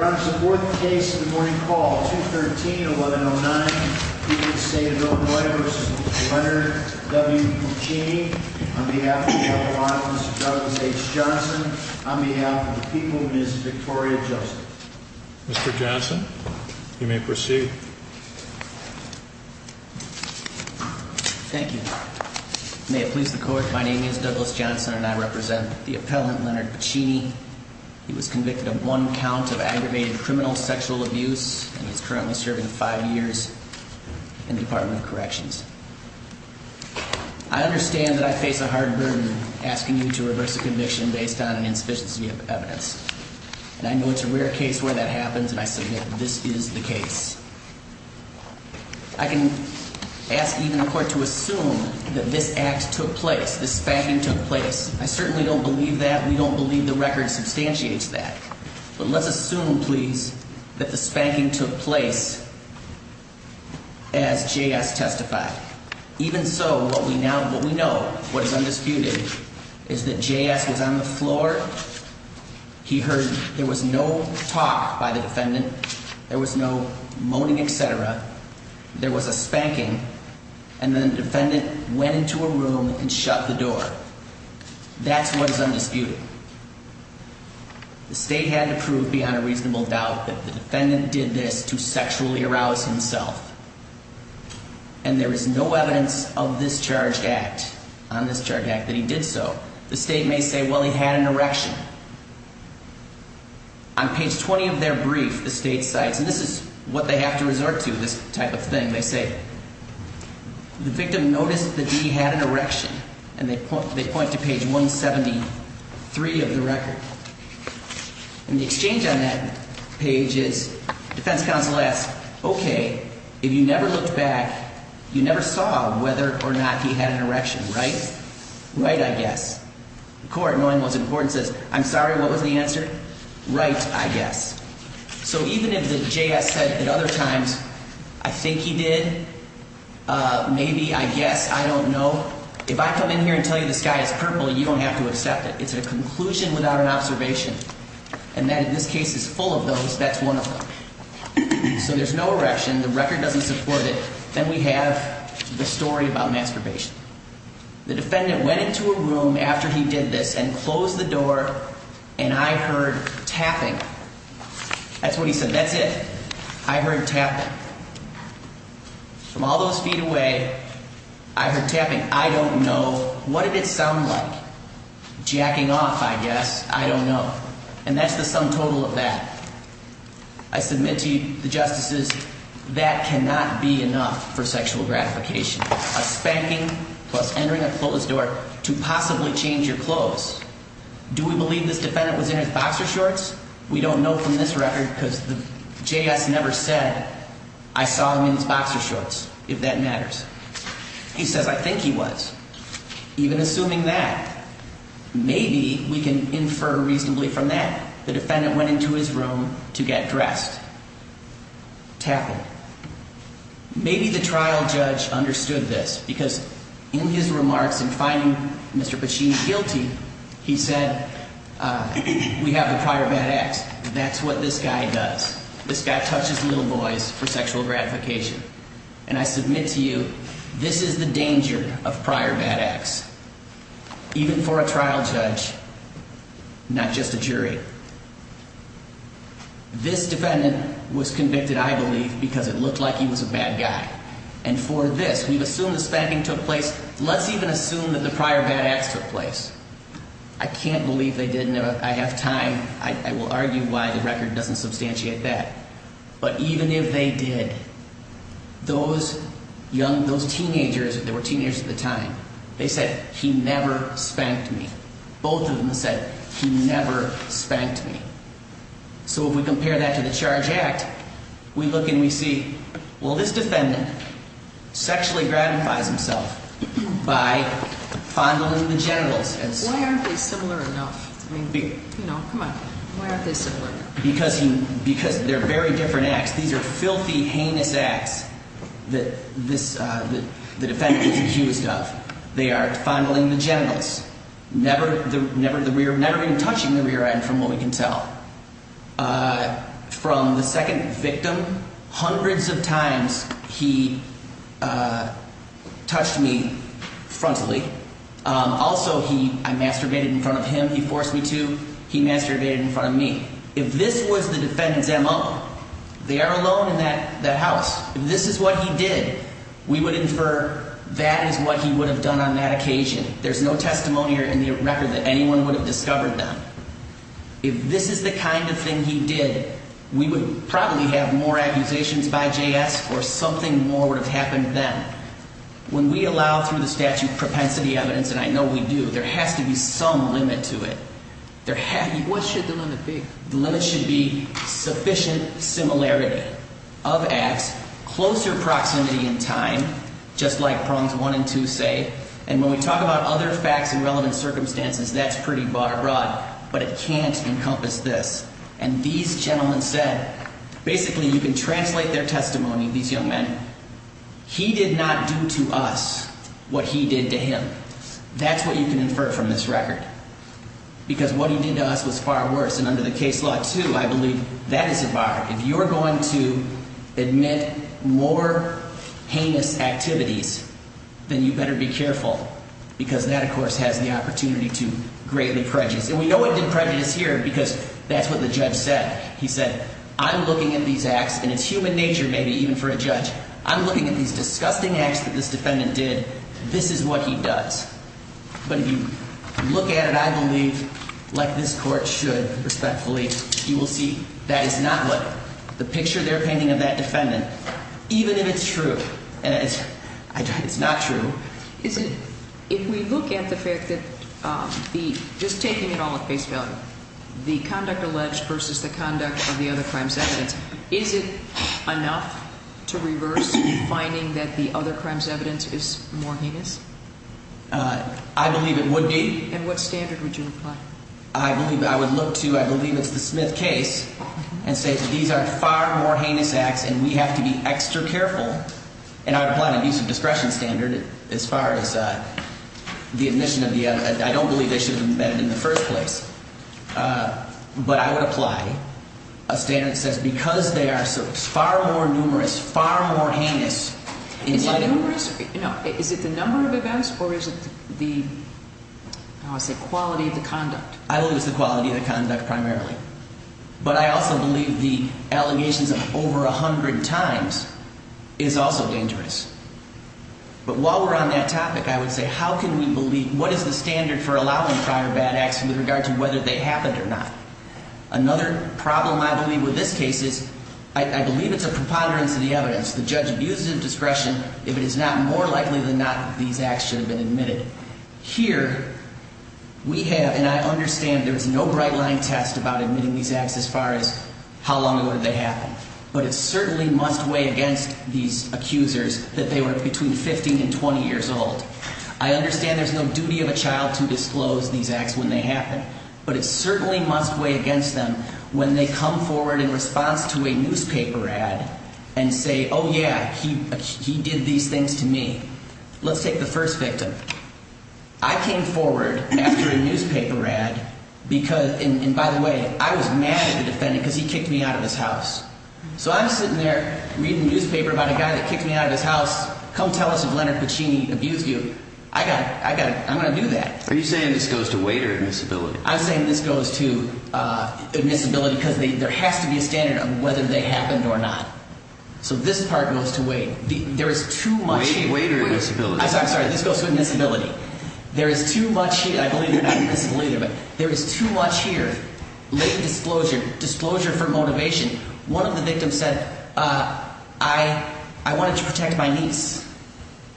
on behalf of the people, Ms. Victoria Joseph. Mr. Johnson, you may proceed. Thank you. May it please the court. My name is Douglas Johnson and I represent the appellant Leonard Puccini. He was convicted of one count of aggravated criminal sexual abuse and is currently serving five years in the Department of Corrections. I understand that I face a hard burden asking you to reverse a conviction based on an insufficiency of evidence and I know it's a rare case where that happens and I submit this is the case. I can ask even the court to assume that this act took place, this spanking took place. I certainly don't believe that. We don't believe the record substantiates that, but let's assume please that the spanking took place as J.S. testified. Even so, what we now, what we know, what is undisputed is that J.S. was on the floor. He heard there was no talk by the defendant. There was no moaning, etc. There was a spanking and then the defendant went into a room and shut the door. That's what is undisputed. The state had to prove beyond a reasonable doubt that the defendant did this to sexually arouse himself and there is no evidence of this charge act, on this charge act, that he did so. The state may say, well, he had an erection. On page 20 of their brief, the state cites, and this is what they have to resort to, this type of thing, they say, the victim noticed that he had an erection and they point to page 173 of the record. And the exchange on that page is defense counsel asks, okay, if you never looked back, you never saw whether or not he had an erection, right? Right, I guess. The court, knowing what's important, says, I'm sorry, what was the answer? Right, I guess. So even if the J.S. said at other times, I think he did, maybe, I guess, I don't know. If I come in here and tell you the sky is purple, you don't have to accept it. It's a conclusion without an observation. And that, in this case, is full of those. That's one of them. So there's no erection. The record doesn't support it. Then we have the story about masturbation. The defendant went into a room after he did this and closed the door and I heard tapping. That's what he said. That's it. I heard tapping. From all those feet away, I heard tapping. I don't know. What did it sound like? Jacking off, I guess. I don't know. And that's the sum total of that. I submit to you, the justices, that cannot be enough for sexual gratification. A spanking plus entering a closed door to possibly change your clothes. Do we believe this defendant was in his boxer shorts? We don't know from this record because the J.S. never said I saw him in his boxer shorts, if that matters. He says I think he was. Even assuming that, maybe we can infer reasonably from that, the defendant went into his room to get dressed. Tapping. Maybe the trial judge understood this because in his remarks in finding Mr. Pachin guilty, he said, we have the prior bad acts. That's what this guy does. This guy touches little boys for sexual gratification. And I submit to you, this is the danger of prior bad acts. Even for a trial judge, not just a jury. This defendant was convicted, I believe, because it looked like he was a bad guy. And for this, we've assumed the spanking took place. Let's even assume that the prior bad acts took place. I can't believe they didn't. I have time. I will argue why the record doesn't substantiate that. But even if they did, those young, those teenagers, they were teenagers at the time, they said he never spanked me. Both of them said he never spanked me. So if we compare that to the CHARGE Act, we look and we see, well, this defendant sexually gratifies himself by fondling the genitals. Why aren't they similar enough? I mean, you know, come on, why aren't they similar? Because they're very different acts. These are filthy, heinous acts that the defendant is accused of. They are fondling the genitals, never even touching the rear end, from what we can tell. From the second victim, hundreds of times he touched me frontally. Also, he, I masturbated in front of him. He forced me to. He masturbated in front of me. If this was the defendant's MO, they are alone in that house. If this is what he did, we would infer that is what he would have done on that occasion. There's no testimony in the record that anyone would have discovered that. If this is the kind of thing he did, we would probably have more accusations by JS or something more would have happened then. When we allow through the statute propensity evidence, and I know we do, there has to be some limit to it. There has to be. What should the limit be? The limit should be sufficient similarity of acts, closer proximity in time, just like prongs one and two say. And when we talk about other facts and relevant circumstances, that's pretty broad. But it can't encompass this. And these gentlemen said, basically, you can translate their testimony. These young men, he did not do to us what he did to him. That's what you can infer from this record, because what he did to us was far worse. And under the case law, too, I believe that is a bar. If you're going to admit more heinous activities, then you better be careful, because that, of course, has the opportunity to greatly prejudice. And we know it did prejudice here because that's what the judge said. He said, I'm looking at these acts, and it's human nature, maybe even for a judge, I'm looking at these disgusting acts that this defendant did. This is what he does. But if you look at it, I believe, like this court should, respectfully, you will see that is not what the picture they're painting of that defendant, even if it's true. And it's not true. Is it, if we look at the fact that the, just taking it all at face value, the conduct alleged versus the conduct of the other crimes evidence, is it enough to reverse finding that the other crimes evidence is more heinous? I believe it would be. And what standard would you apply? I believe, I would look to, I believe it's the Smith case, and say that these are far more as far as the admission of the evidence, I don't believe they should have been embedded in the first place. But I would apply a standard that says because they are far more numerous, far more heinous. Is it numerous? You know, is it the number of events, or is it the, how do I say, quality of the conduct? I believe it's the quality of the conduct, primarily. But I also believe the I would say, how can we believe, what is the standard for allowing prior bad acts with regard to whether they happened or not? Another problem I believe with this case is, I believe it's a preponderance of the evidence. The judge views it as discretion, if it is not, more likely than not these acts should have been admitted. Here, we have, and I understand there's no bright line test about admitting these acts as far as how long ago did they happen. But it certainly must weigh these accusers that they were between 15 and 20 years old. I understand there's no duty of a child to disclose these acts when they happen. But it certainly must weigh against them when they come forward in response to a newspaper ad and say, oh yeah, he did these things to me. Let's take the first victim. I came forward after a newspaper ad because, and by the way, I was mad at the newspaper about a guy that kicked me out of his house. Come tell us if Leonard Puccini abused you. I got it. I got it. I'm going to do that. Are you saying this goes to weight or admissibility? I'm saying this goes to admissibility because there has to be a standard of whether they happened or not. So this part goes to weight. There is too much weight or admissibility. I'm sorry. I'm sorry. This goes to admissibility. There is too much here. I believe you're not admissible either, but there is too much here. Late disclosure. Disclosure for motivation. One of the victims said, I wanted to protect my niece.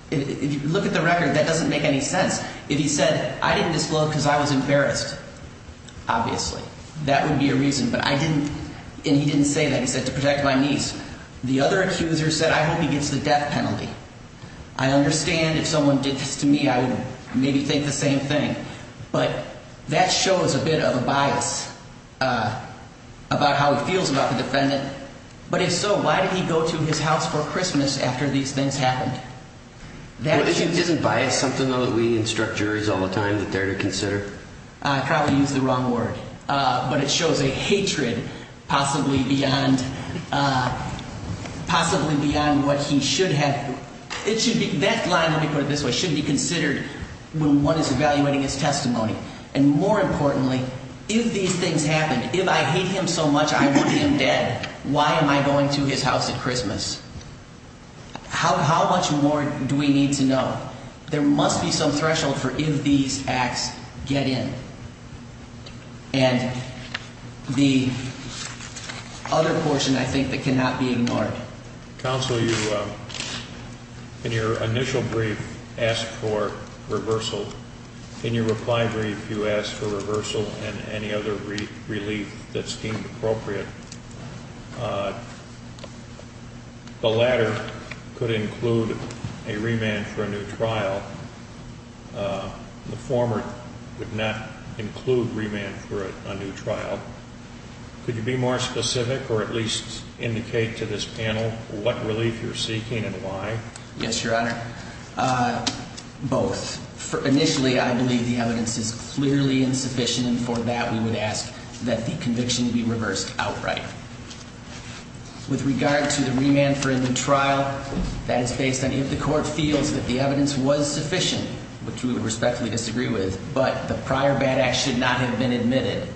If you look at the record, that doesn't make any sense. If he said, I didn't disclose because I was embarrassed, obviously, that would be a reason. But I didn't, and he didn't say that. He said to protect my niece. The other accuser said, I hope he gets the death penalty. I understand if someone did this to me, I would maybe think the same thing. But that shows a bit of a bias about how he feels about the defendant. But if so, why did he go to his house for Christmas after these things happened? Isn't bias something that we instruct juries all the time that they're to consider? I probably used the wrong word, but it shows a hatred possibly beyond what he should have. That line, let me put it this way, should be considered when one is evaluating his testimony. And more importantly, if these things happened, if I hate him so much, I want him dead. Why am I going to his house at Christmas? How much more do we need to know? There must be some threshold for if these acts get in. And the other portion, I think, that cannot be ignored. Counsel, you, in your initial brief, asked for reversal. In your reply brief, you asked for reversal and any other relief that seemed appropriate. The latter could include a remand for a new trial. The former would not include remand for a new trial. Could you be more specific or at least indicate to this panel what relief you're seeking and why? Yes, Your Honor. Both. Initially, I believe the evidence is clearly insufficient, and for that we would ask that the conviction be reversed outright. With regard to the remand for a new trial, that is based on if the court feels that the evidence was sufficient, which we would respectfully disagree with, but the prior bad act should not have been admitted,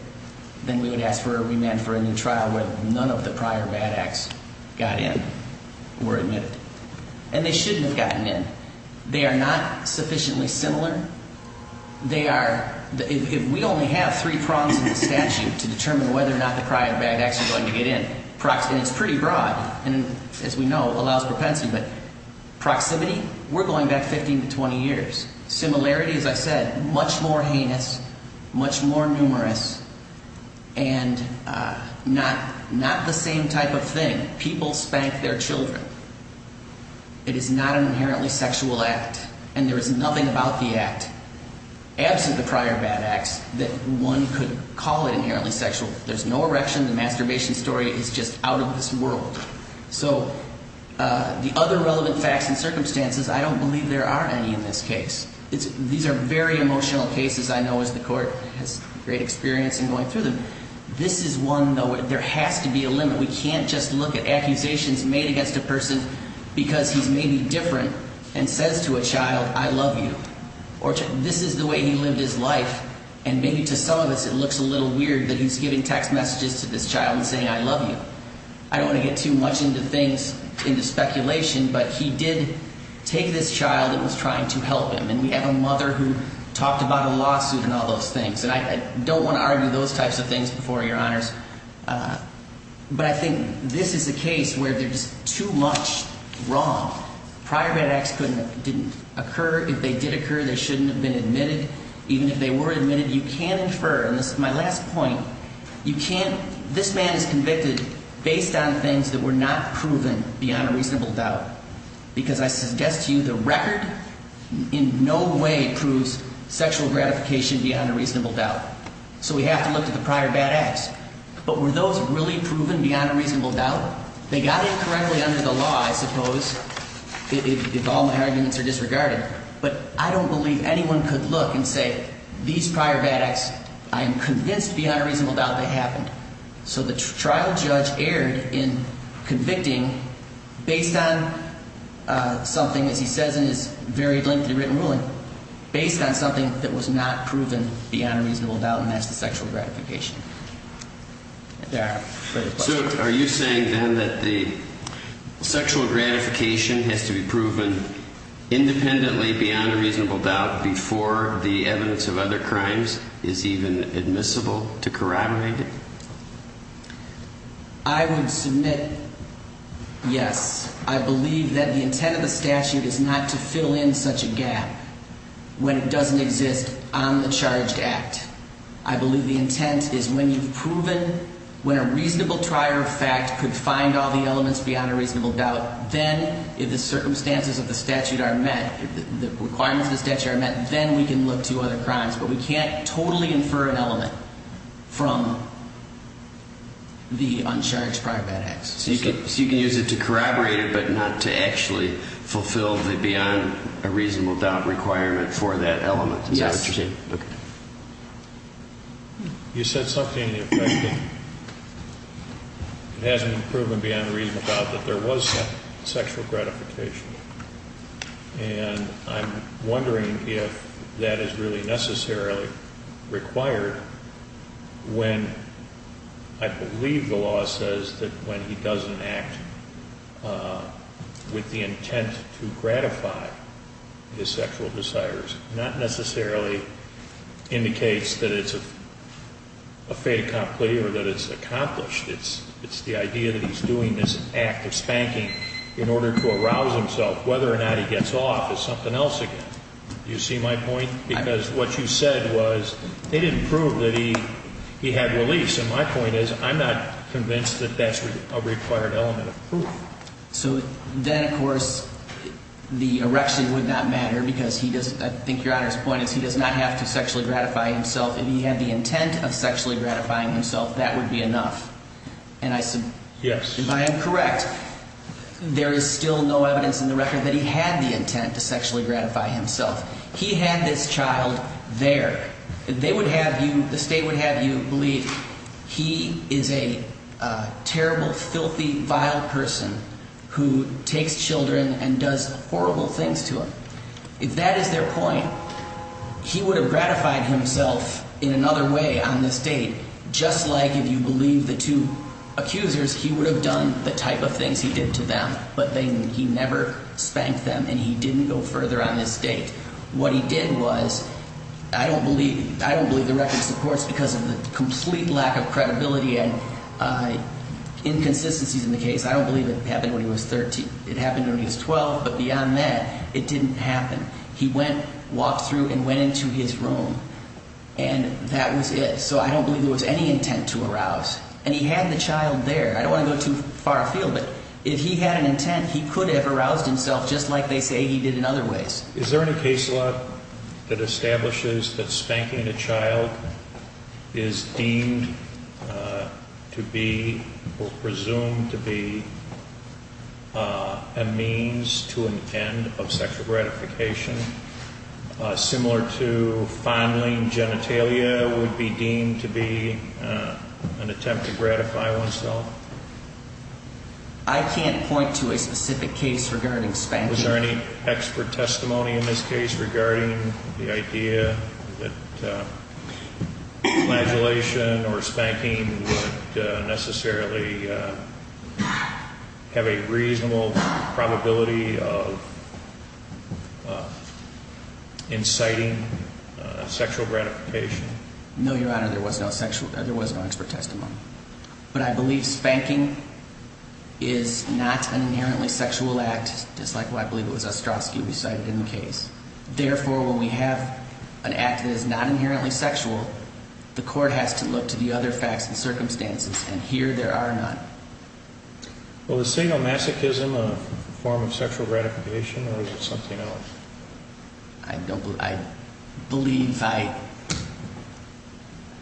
then we would ask for a remand for a new trial where none of the prior bad acts got in or were admitted. And they shouldn't have gotten in. They are not sufficiently similar. They are, if we only have three prongs in the statute to determine whether or not the prior bad acts are going to get in, and it's pretty broad, and as we know, it allows propensity, but proximity, we're going back 15 to 20 years. Similarity, as I said, much more heinous, much more numerous, and not the same type of thing. People spank their children. It is not an inherently sexual act, and there is nothing about the act, absent the prior bad acts, that one could call it inherently sexual. There's no erection. The masturbation story is just out of this world. So the other relevant facts and circumstances, I don't believe there are any in this case. These are very emotional cases, I know, as the court has great experience in going through them. This is one, though, there has to be a limit. We can't just look at accusations made against a person because he's maybe different and says to a child, I love you, or this is the way he lived his life, and maybe to some of us it looks a little weird that he's giving text messages to this child and saying, I love you. I don't want to get too much into things, into speculation, but he did take this child that was trying to help him. And we have a mother who talked about a lawsuit and all those things. And I don't want to argue those types of things before your honors. But I think this is a case where there's too much wrong. Prior bad acts couldn't, didn't occur. If they did occur, they shouldn't have been admitted. Even if they were admitted, you can infer, and this is my last point, you can't, this man is proven beyond a reasonable doubt. Because I suggest to you, the record in no way proves sexual gratification beyond a reasonable doubt. So we have to look at the prior bad acts. But were those really proven beyond a reasonable doubt? They got it correctly under the law, I suppose, if all my arguments are disregarded. But I don't believe anyone could look and say, these prior bad acts, I am convinced beyond a reasonable doubt they happened. So the trial judge erred in convicting based on something, as he says in his very lengthy written ruling, based on something that was not proven beyond a reasonable doubt, and that's the sexual gratification. Are you saying then that the sexual gratification has to be proven independently beyond a reasonable doubt before the evidence of other crimes is even admissible to corroborate it? I would submit yes. I believe that the intent of the statute is not to fill in such a gap when it doesn't exist on the charged act. I believe the intent is when you've proven, when a reasonable trier of fact could find all the elements beyond a reasonable doubt, then if the circumstances of the statute are met, if the requirements of the statute are met, then we can look to other crimes. But we can't totally infer an element from the uncharged prior bad acts. So you can use it to corroborate it, but not to actually fulfill the beyond a reasonable doubt requirement for that element. Is that what you're saying? Yes. You said something in your question. It hasn't been proven beyond a reasonable doubt that there was sexual gratification. And I'm wondering if that is really necessarily required when I believe the law says that when he doesn't act with the intent to gratify his sexual desires, not necessarily indicates that it's a fait accompli or that it's accomplished. It's the idea that he's doing this act of spanking in order to arouse himself. Whether or not he gets off is something else again. Do you see my point? Because what you said was they didn't prove that he had release. And my point is I'm not convinced that that's a required element of proof. So then, of course, the erection would not matter because he doesn't, I think Your Honor's point is he does not have to sexually gratify himself. If he had the intent of sexually gratifying himself, that would be enough. And I said, yes, if I am correct, there is still no evidence in the record that he had the intent to sexually gratify himself. He had this child there. They would have you the state would have you believe he is a terrible, filthy, vile person who takes children and does horrible things to him. If that is their point, he would have gratified himself in another way on this date. Just like if you believe the two accusers, he would have done the type of things he did to them, but then he never spanked them and he didn't go further on this date. What he did was I don't believe I don't believe the record supports because of the complete lack of credibility and inconsistencies in the case. I don't believe it happened when he was 13. It happened when he was 12. But beyond that, it didn't happen. He went, walked through and went into his room and that was it. So I don't believe there was any intent to arouse and he had the child there. I don't want to go too far afield, but if he had an intent, he could have aroused himself just like they say he did in other ways. Is there any case law that establishes that spanking a child is deemed to be presumed to be a means to an end of sexual gratification? A similar to fondling genitalia would be deemed to be an attempt to gratify oneself? I can't point to a specific case regarding spanking. Was there any expert testimony in this case regarding the idea that flagellation or spanking would necessarily have a reasonable probability of inciting sexual gratification? No, Your Honor, there was no sexual, there was no expert testimony. But I believe spanking is not an inherently sexual act, just like what I believe was Ostrowski recited in the case. Therefore, when we have an act that is not inherently sexual, the court has to look to the other facts and circumstances, and here there are none. Well, is single masochism a form of sexual gratification or is it something else? I don't, I believe I,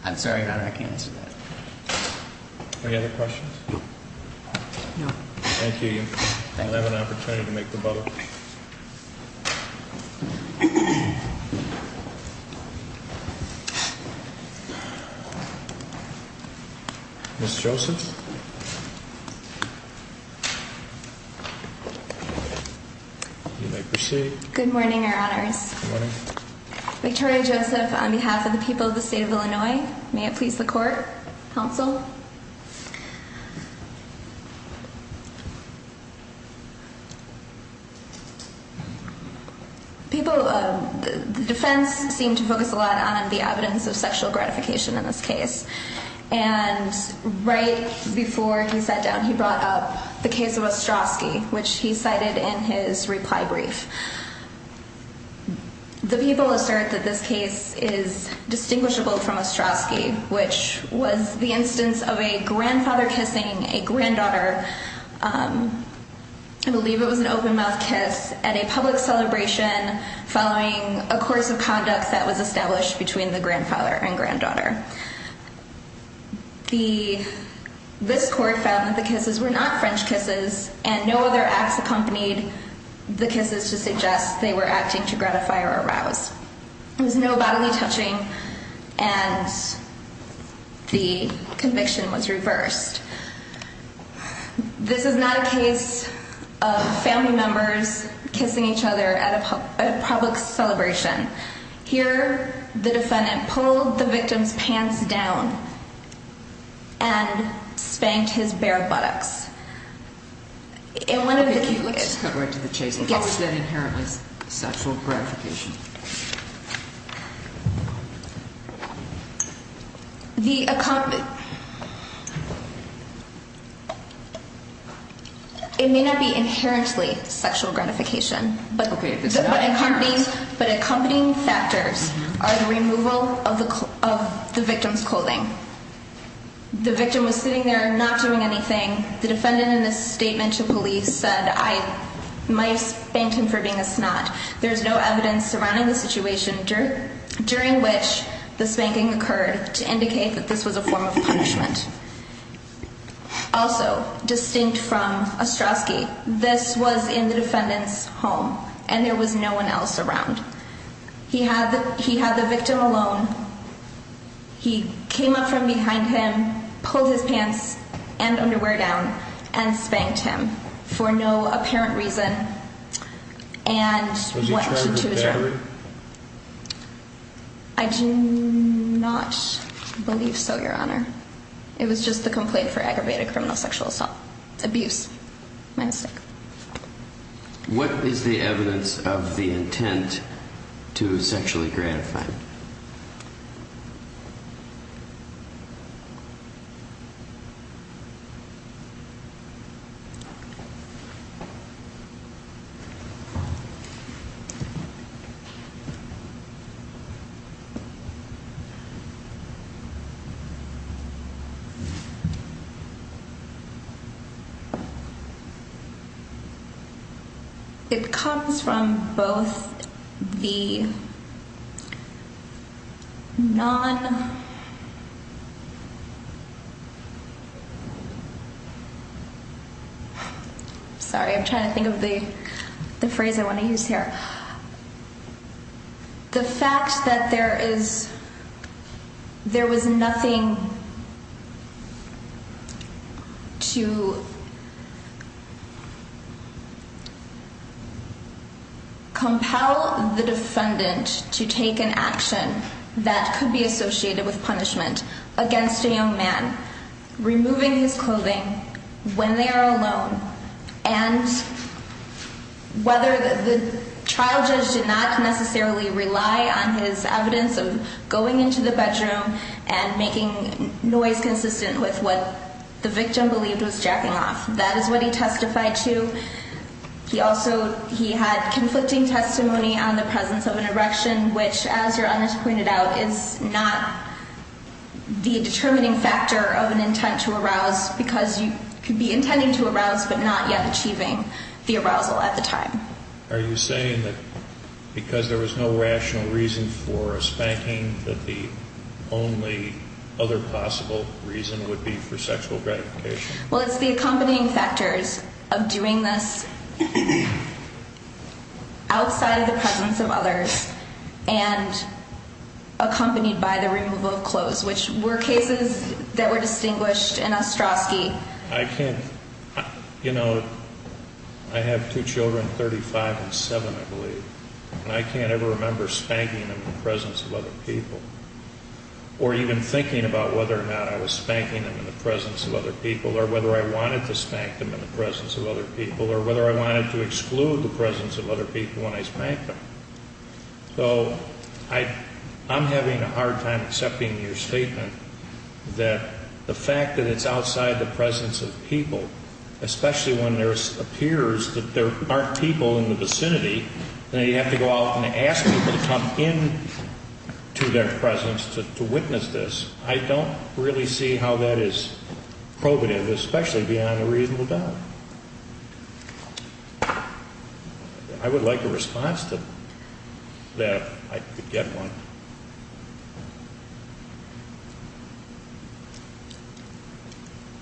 I'm sorry, Your Honor, I can't answer that. Any other questions? No. Thank you. You'll have an opportunity to make the bubble. Ms. Joseph? You may proceed. Good morning, Your Honors. Good morning. Victoria Joseph, on behalf of the people of the state of Illinois, may it please the court, counsel? People, the defense seemed to focus a lot on the evidence of sexual gratification in this case. And right before he sat down, he brought up the case of Ostrowski, which he cited in his reply brief. The people assert that this case is distinguishable from Ostrowski, which was the instance of a grandfather kissing a granddaughter. I believe it was an open mouth kiss at a public celebration following a course of conduct that was established between the grandfather and granddaughter. The, this court found that the kisses were not French kisses and no other acts accompanied the kisses to suggest they were acting to gratify or arouse. There was no bodily touching and the conviction was reversed. This is not a case of family members kissing each other at a public celebration. Here, the defendant pulled the victim's pants down and spanked his bare buttocks. Okay, let's cut right to the chase. What was that inherently sexual gratification? It may not be inherently sexual gratification. Okay, if it's not inherent. But accompanying factors are the removal of the, of the victim's clothing. The victim was sitting there not doing anything. The defendant in this statement to police said, I might have spanked him for being a snot. There's no evidence surrounding the situation during which the spanking occurred to indicate that this was a form of punishment. Also distinct from Ostrowski, this was in the defendant's home and there was no one else around. He had, he had the victim alone. He came up from behind him, pulled his pants and underwear down and spanked him for no apparent reason. And what? I do not believe so, your honor. It was just the complaint for aggravated criminal sexual assault abuse. My mistake. What is the evidence of the intent to sexually gratify? It comes from both the non. Sorry, I'm trying to think of the, the phrase I want to use here. The fact that there is, there was nothing to compel the defendant to take an action that could be associated with punishment against a young man, removing his clothing when they are alone. And whether the trial judge did not necessarily rely on his evidence of going into the bedroom and making noise consistent with what the victim believed was jacking off. That is what he testified to. He also, he had conflicting testimony on the presence of an erection, which, as your honors pointed out, is not the determining factor of an intent to arouse because you could be intending to arouse, but not yet achieving the arousal at the time. Are you saying that because there was no rational reason for a spanking, that the only other possible reason would be for sexual gratification? Well, it's the accompanying factors of doing this outside of the presence of others and accompanied by the removal of clothes, which were cases that were distinguished in Ostrowski. I can't, you know, I have two children, 35 and 7, I believe, and I can't ever remember spanking them in the presence of other people. Or even thinking about whether or not I was spanking them in the presence of other people, or whether I wanted to spank them in the presence of other people, or whether I wanted to exclude the presence of other people when I spanked them. So, I'm having a hard time accepting your statement that the fact that it's outside the presence of people, especially when there appears that there aren't people in the vicinity, then you have to go out and ask people to come into their presence to witness this. I don't really see how that is probative, especially beyond a reasonable doubt. I would like a response to that, if I could get one.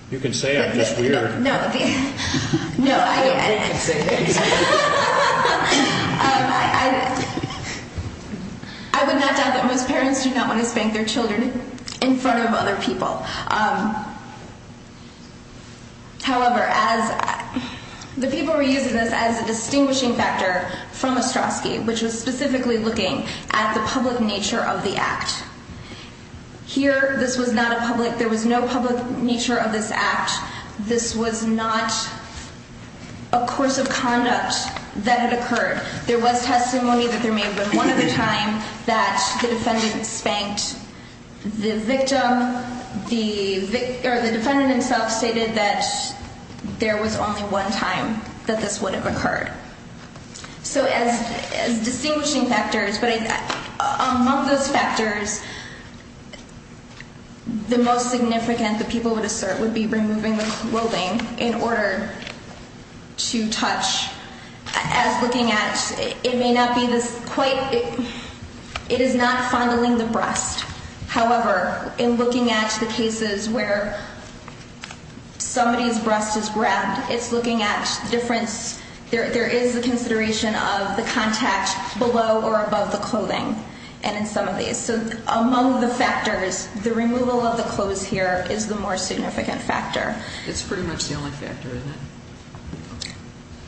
You can say it, it's just weird. No, no, I would not doubt that most parents do not want to spank their children in front of other people. However, the people were using this as a distinguishing factor from Ostrowski, which was specifically looking at the public nature of the act. Here, this was not a public, there was no public nature of this act. This was not a course of conduct that had occurred. There was testimony that there may have been one other time that the defendant spanked the victim. The defendant himself stated that there was only one time that this would have occurred. So as distinguishing factors, but among those factors, the most significant, the people would assert, would be removing the clothing in order to touch. As looking at, it may not be this quite, it is not fondling the breast. However, in looking at the cases where somebody's breast is grabbed, it's looking at difference, there is a consideration of the contact below or above the clothing. And in some of these, so among the factors, the removal of the clothes here is the more significant factor. It's pretty much the only factor, isn't it?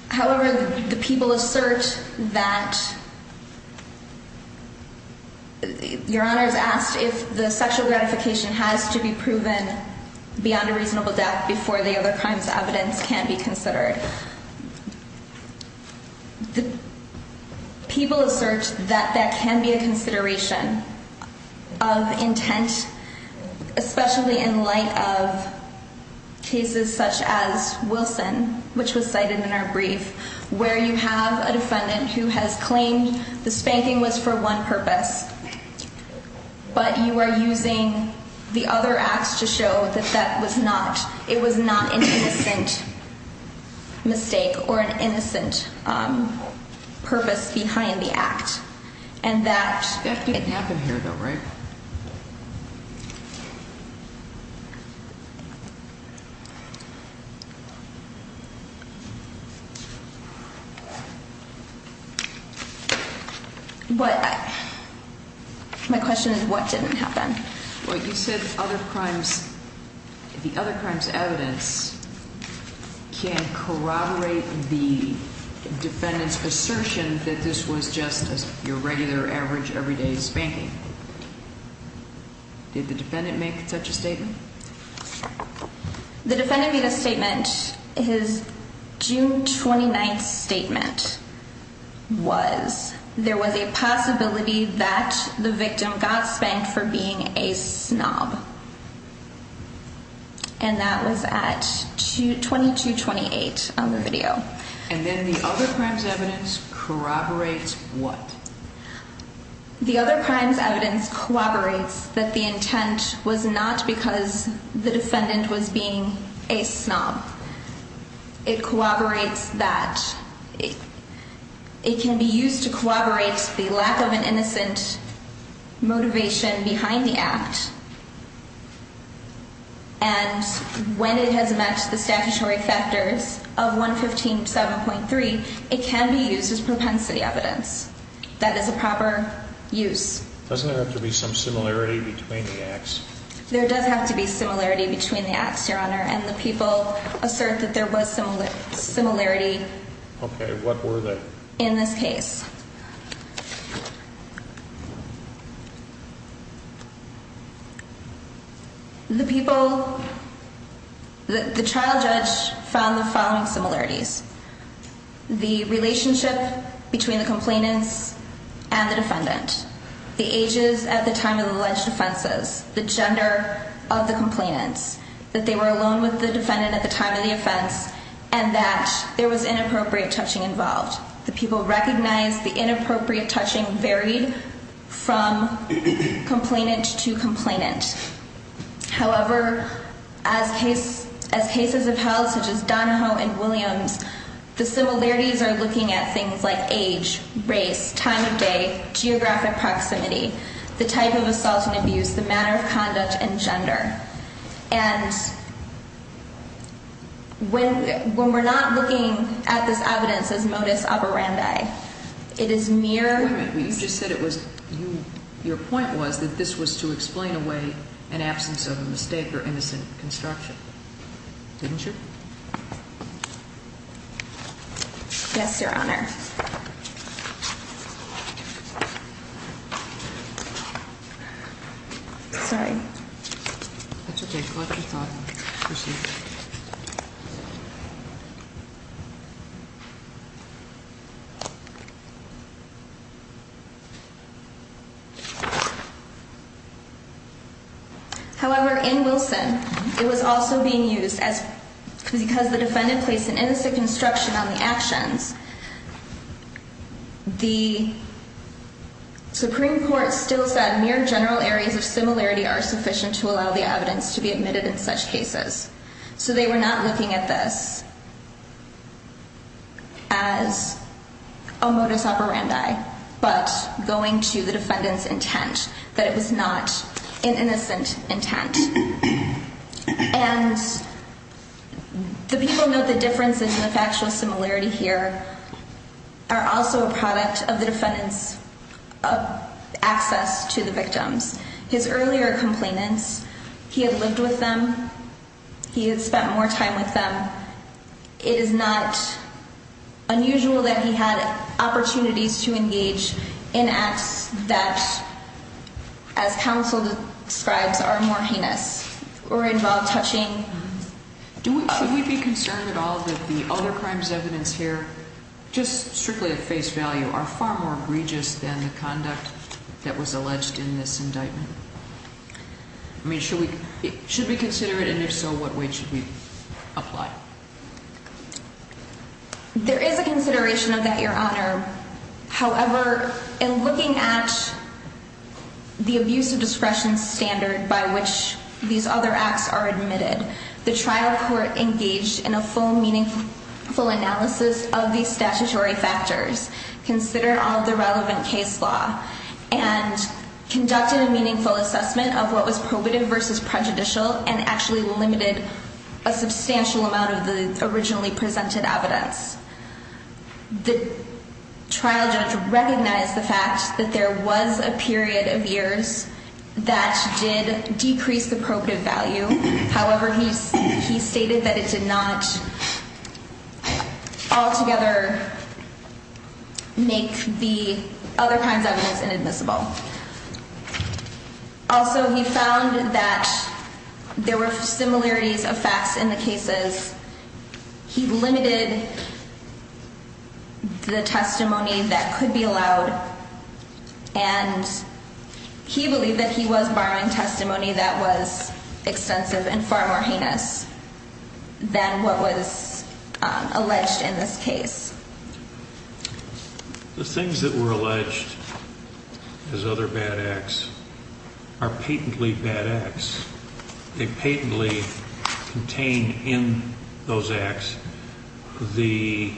However, the people assert that, Your Honor's asked if the sexual gratification has to be proven beyond a reasonable doubt before the other crimes evidence can be considered. People assert that that can be a consideration of intent, especially in light of cases such as Wilson, which was cited in our brief, where you have a defendant who has claimed the spanking was for one purpose, but you are using the other acts to show that that was not. It was not an innocent mistake or an innocent purpose behind the act. And that it happened here, though, right? But my question is, what didn't happen? What you said other crimes, the other crimes evidence can corroborate the defendant's assertion that this was just your regular average everyday spanking. Did the defendant make such a statement? The defendant made a statement, his June 29th statement was there was a possibility that the victim got spanked for being a snob. And that was at 2228 on the video. And then the other crimes evidence corroborates what? The other crimes evidence collaborates that the intent was not because the defendant was being a snob. It corroborates that it can be used to corroborate the lack of an innocent motivation behind the act. And when it has met the statutory factors of 115 7.3, it can be used as propensity evidence. That is a proper use. Doesn't there have to be some similarity between the acts? And the people assert that there was some similarity. Okay, what were they in this case? The people that the trial judge found the following similarities. The relationship between the complainants and the defendant, the ages at the time of the alleged offenses, the gender of the complainants, that they were alone with the defendant at the time of the offense, and that there was inappropriate touching involved. The people recognize the inappropriate touching varied from complainant to complainant. However, as case as cases of how such as Donahoe and Williams, the similarities are looking at things like age, race, time of day, geographic proximity, the type of assault and abuse, the manner of conduct and gender. And when we're not looking at this evidence as modus operandi, it is mere... Wait a minute, you just said it was... Your point was that this was to explain away an absence of a mistake or innocent construction. Didn't you? Yes, Your Honor. Sorry. That's okay. However, in Wilson, it was also being used as... Because the defendant placed an innocent construction on the actions, the Supreme Court still said mere general areas of similarity are sufficient to allow the evidence to be admitted in such cases. So they were not looking at this as a modus operandi, but going to the defendant's intent that it was not an innocent intent. And the people know the difference in the factual similarity here are also a product of the defendant's access to the victims. His earlier complainants, he had lived with them. He had spent more time with them. It is not unusual that he had opportunities to engage in acts that, as counsel describes, are more heinous or involve touching. Should we be concerned at all that the other crimes evidence here, just strictly at face value, are far more egregious than the conduct that was alleged in this indictment? I mean, should we consider it? And if so, what way should we apply? There is a consideration of that, Your Honor. However, in looking at the abuse of discretion standard by which these other acts are admitted, the trial court engaged in a full meaningful analysis of these statutory factors. Consider all the relevant case law, and conducted a meaningful assessment of what was probative versus prejudicial, and actually limited a substantial amount of the originally presented evidence. The trial judge recognized the fact that there was a period of years that did decrease the probative value. However, he stated that it did not altogether make the other crimes evidence inadmissible. Also, he found that there were similarities of facts in the cases. He limited the testimony that could be allowed, and he believed that he was borrowing testimony that was extensive and far more heinous than what was alleged in this case. The things that were alleged as other bad acts are patently bad acts. They patently contain in those acts the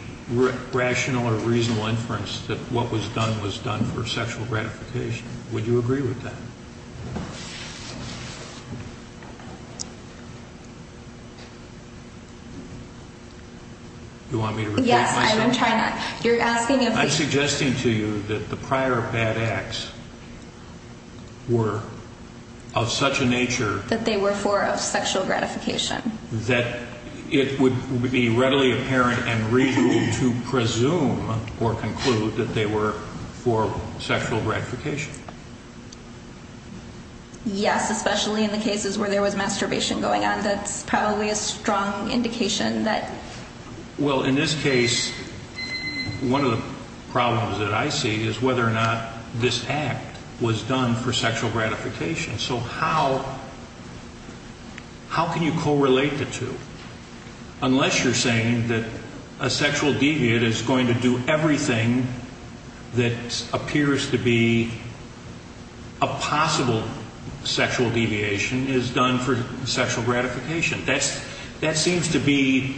rational or reasonable inference that what was done was done for sexual gratification. Would you agree with that? You want me to repeat myself? Yes, I'm trying. You're asking if... I'm suggesting to you that the prior bad acts were of such a nature... That they were for sexual gratification. ...that it would be readily apparent and reasonable to presume or conclude that they were for sexual gratification. Yes, especially in the cases where there was masturbation going on. That's probably a strong indication that... Well, in this case, one of the problems that I see is whether or not this act was done for sexual gratification. So how can you correlate the two? Unless you're saying that a sexual deviant is going to do everything that appears to be a possible sexual deviation is done for sexual gratification. That seems to be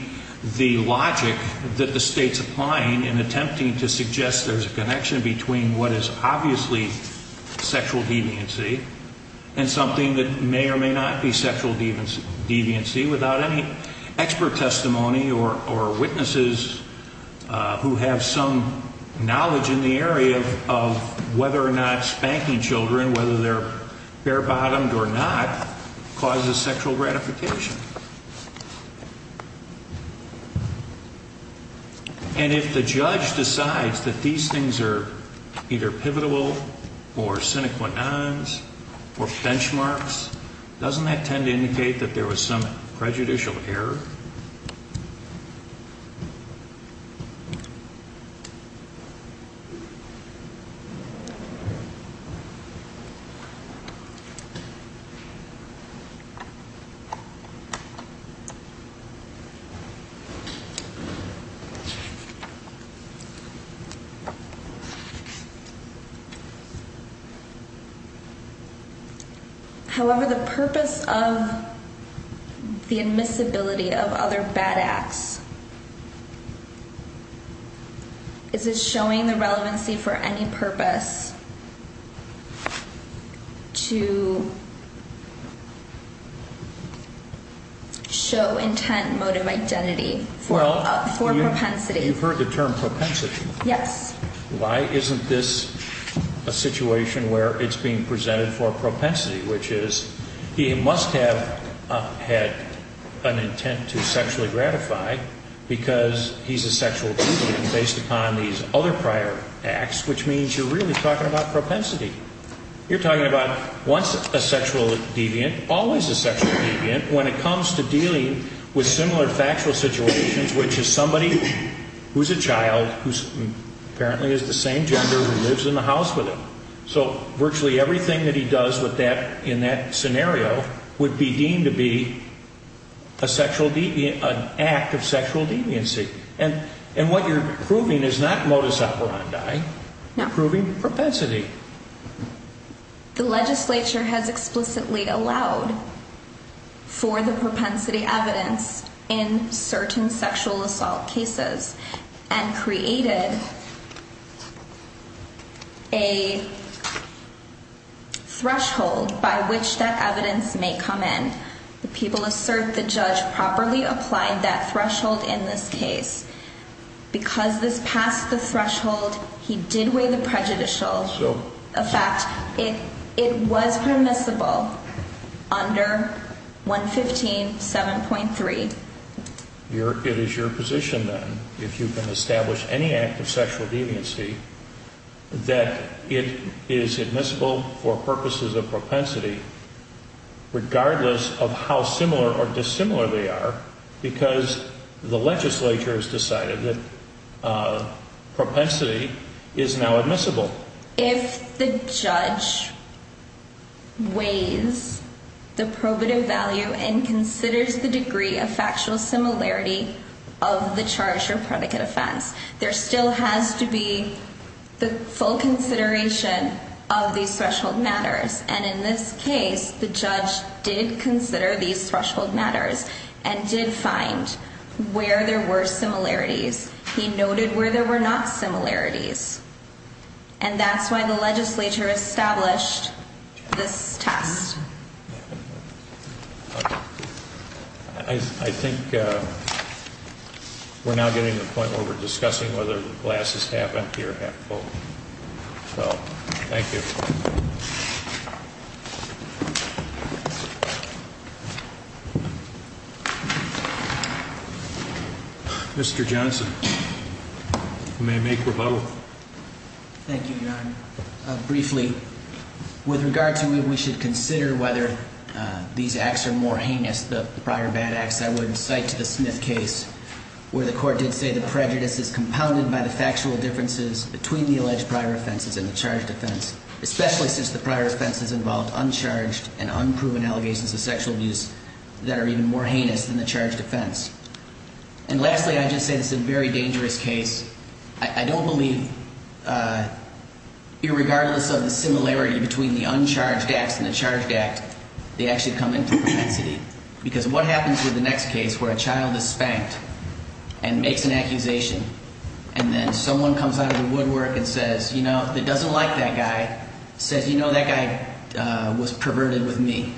the logic that the state's applying in attempting to suggest there's a connection between what is obviously sexual deviancy and something that may or may not be sexual deviancy without any expert testimony or witnesses who have some knowledge in the area of whether or not spanking children, whether they're bare-bottomed or not, causes sexual gratification. And if the judge decides that these things are either pivotal or sine qua nons or benchmarks, doesn't that tend to indicate that there was some prejudicial error? However, the purpose of the admissibility of other bad acts, is it showing the relevancy for any purpose to show intent, motive, identity for propensity? You've heard the term propensity. Yes. Why isn't this a situation where it's being presented for propensity, which is he must have had an intent to sexually gratify because he's a sexual deviant based upon these other prior acts, which means you're really talking about propensity. You're talking about once a sexual deviant, always a sexual deviant, when it comes to dealing with similar factual situations, which is somebody who's a child, who apparently is the same gender, who lives in the house with him. So virtually everything that he does with that in that scenario would be deemed to be an act of sexual deviancy. And what you're proving is not modus operandi, you're proving propensity. The legislature has explicitly allowed for the propensity evidence in certain sexual assault cases and created a threshold by which that evidence may come in. The people assert the judge properly applied that threshold in this case. Because this passed the threshold, he did weigh the prejudicial effect. It was permissible under 115.7.3. It is your position then, if you can establish any act of sexual deviancy, that it is admissible for purposes of propensity, regardless of how similar or dissimilar they are, because the legislature has decided that propensity is now admissible. If the judge weighs the probative value and considers the degree of factual similarity of the charge or predicate offense, there still has to be the full consideration of these threshold matters. And in this case, the judge did consider these threshold matters and did find where there were similarities. He noted where there were not similarities. And that's why the legislature established this test. I think we're now getting to the point where we're discussing whether the glass is half empty or half full. So, thank you. Mr. Johnson, you may make rebuttal. Thank you, Your Honor. Briefly, with regard to whether we should consider whether these acts are more heinous, the prior bad acts, I would cite the Smith case, where the court did say the prejudice is compounded by the factual differences between the alleged prior offenses and the charged offense. Especially since the prior offenses involved uncharged and unproven allegations of sexual abuse that are even more heinous than the charged offense. And lastly, I just say this is a very dangerous case. I don't believe, irregardless of the similarity between the uncharged acts and the charged act, they actually come into propensity. Because what happens with the next case where a child is spanked and makes an accusation and then someone comes out of the woodwork and says, that doesn't like that guy, says, you know, that guy was perverted with me.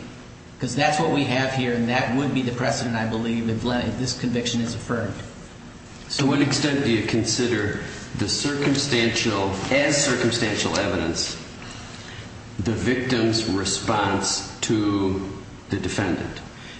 Because that's what we have here and that would be the precedent, I believe, if this conviction is affirmed. To what extent do you consider the circumstantial, as circumstantial evidence, the victim's response to the defendant?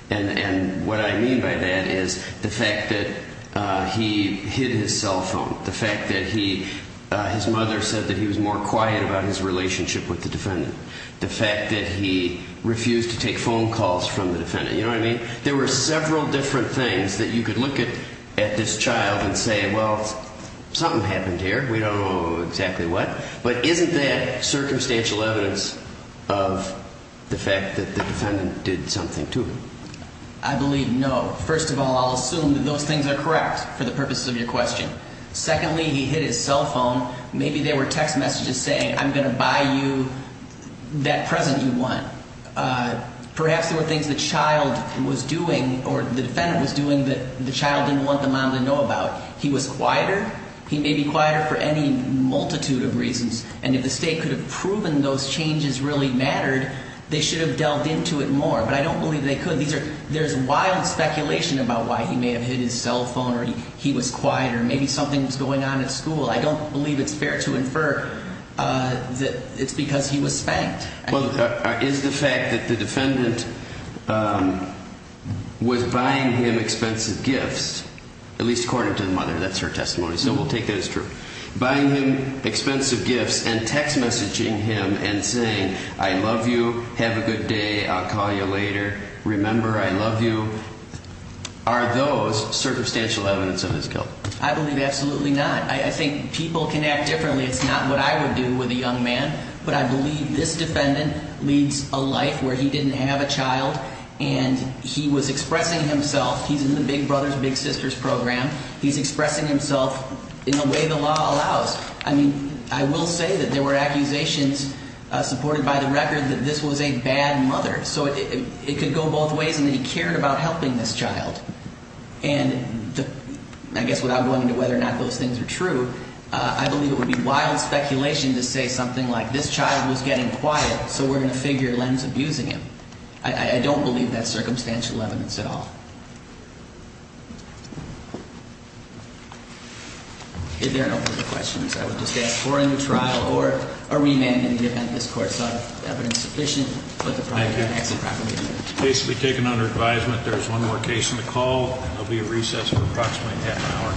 And what I mean by that is the fact that he hid his cell phone, the fact that his mother said that he was more quiet about his relationship with the defendant, the fact that he refused to take phone calls from the defendant. You know what I mean? There were several different things that you could look at this child and say, well, something happened here. We don't know exactly what. But isn't that circumstantial evidence of the fact that the defendant did something to him? I believe no. First of all, I'll assume that those things are correct for the purposes of your question. Secondly, he hid his cell phone. Maybe there were text messages saying, I'm going to buy you that present you want. Perhaps there were things the child was doing, or the defendant was doing that the child didn't want the mom to know about. He was quieter. He may be quieter for any multitude of reasons. And if the state could have proven those changes really mattered, they should have delved into it more. But I don't believe they could. These are, there's wild speculation about why he may have hid his cell phone or he was quieter. Maybe something was going on at school. I don't believe it's fair to infer that it's because he was spanked. Well, is the fact that the defendant was buying him expensive gifts, at least according to the mother, that's her testimony. So we'll take that as true. Buying him expensive gifts and text messaging him and saying, I love you. Have a good day. I'll call you later. Remember, I love you. Are those circumstantial evidence of his guilt? I believe absolutely not. I think people can act differently. It's not what I would do with a young man. But I believe this defendant leads a life where he didn't have a child and he was expressing himself. He's in the Big Brothers Big Sisters program. He's expressing himself in the way the law allows. I mean, I will say that there were accusations supported by the record that this was a bad mother. So it could go both ways. And he cared about helping this child. And I guess without going into whether or not those things are true, I believe it would be wild speculation to say something like, this child was getting quiet. So we're going to figure Len's abusing him. I don't believe that's circumstantial evidence at all. If there are no further questions, I would just ask for a new trial or a remand in the event this Court saw evidence sufficient. But the probably can't actually properly do it. The case will be taken under advisement. There's one more case on the call. There'll be a recess for approximately half an hour.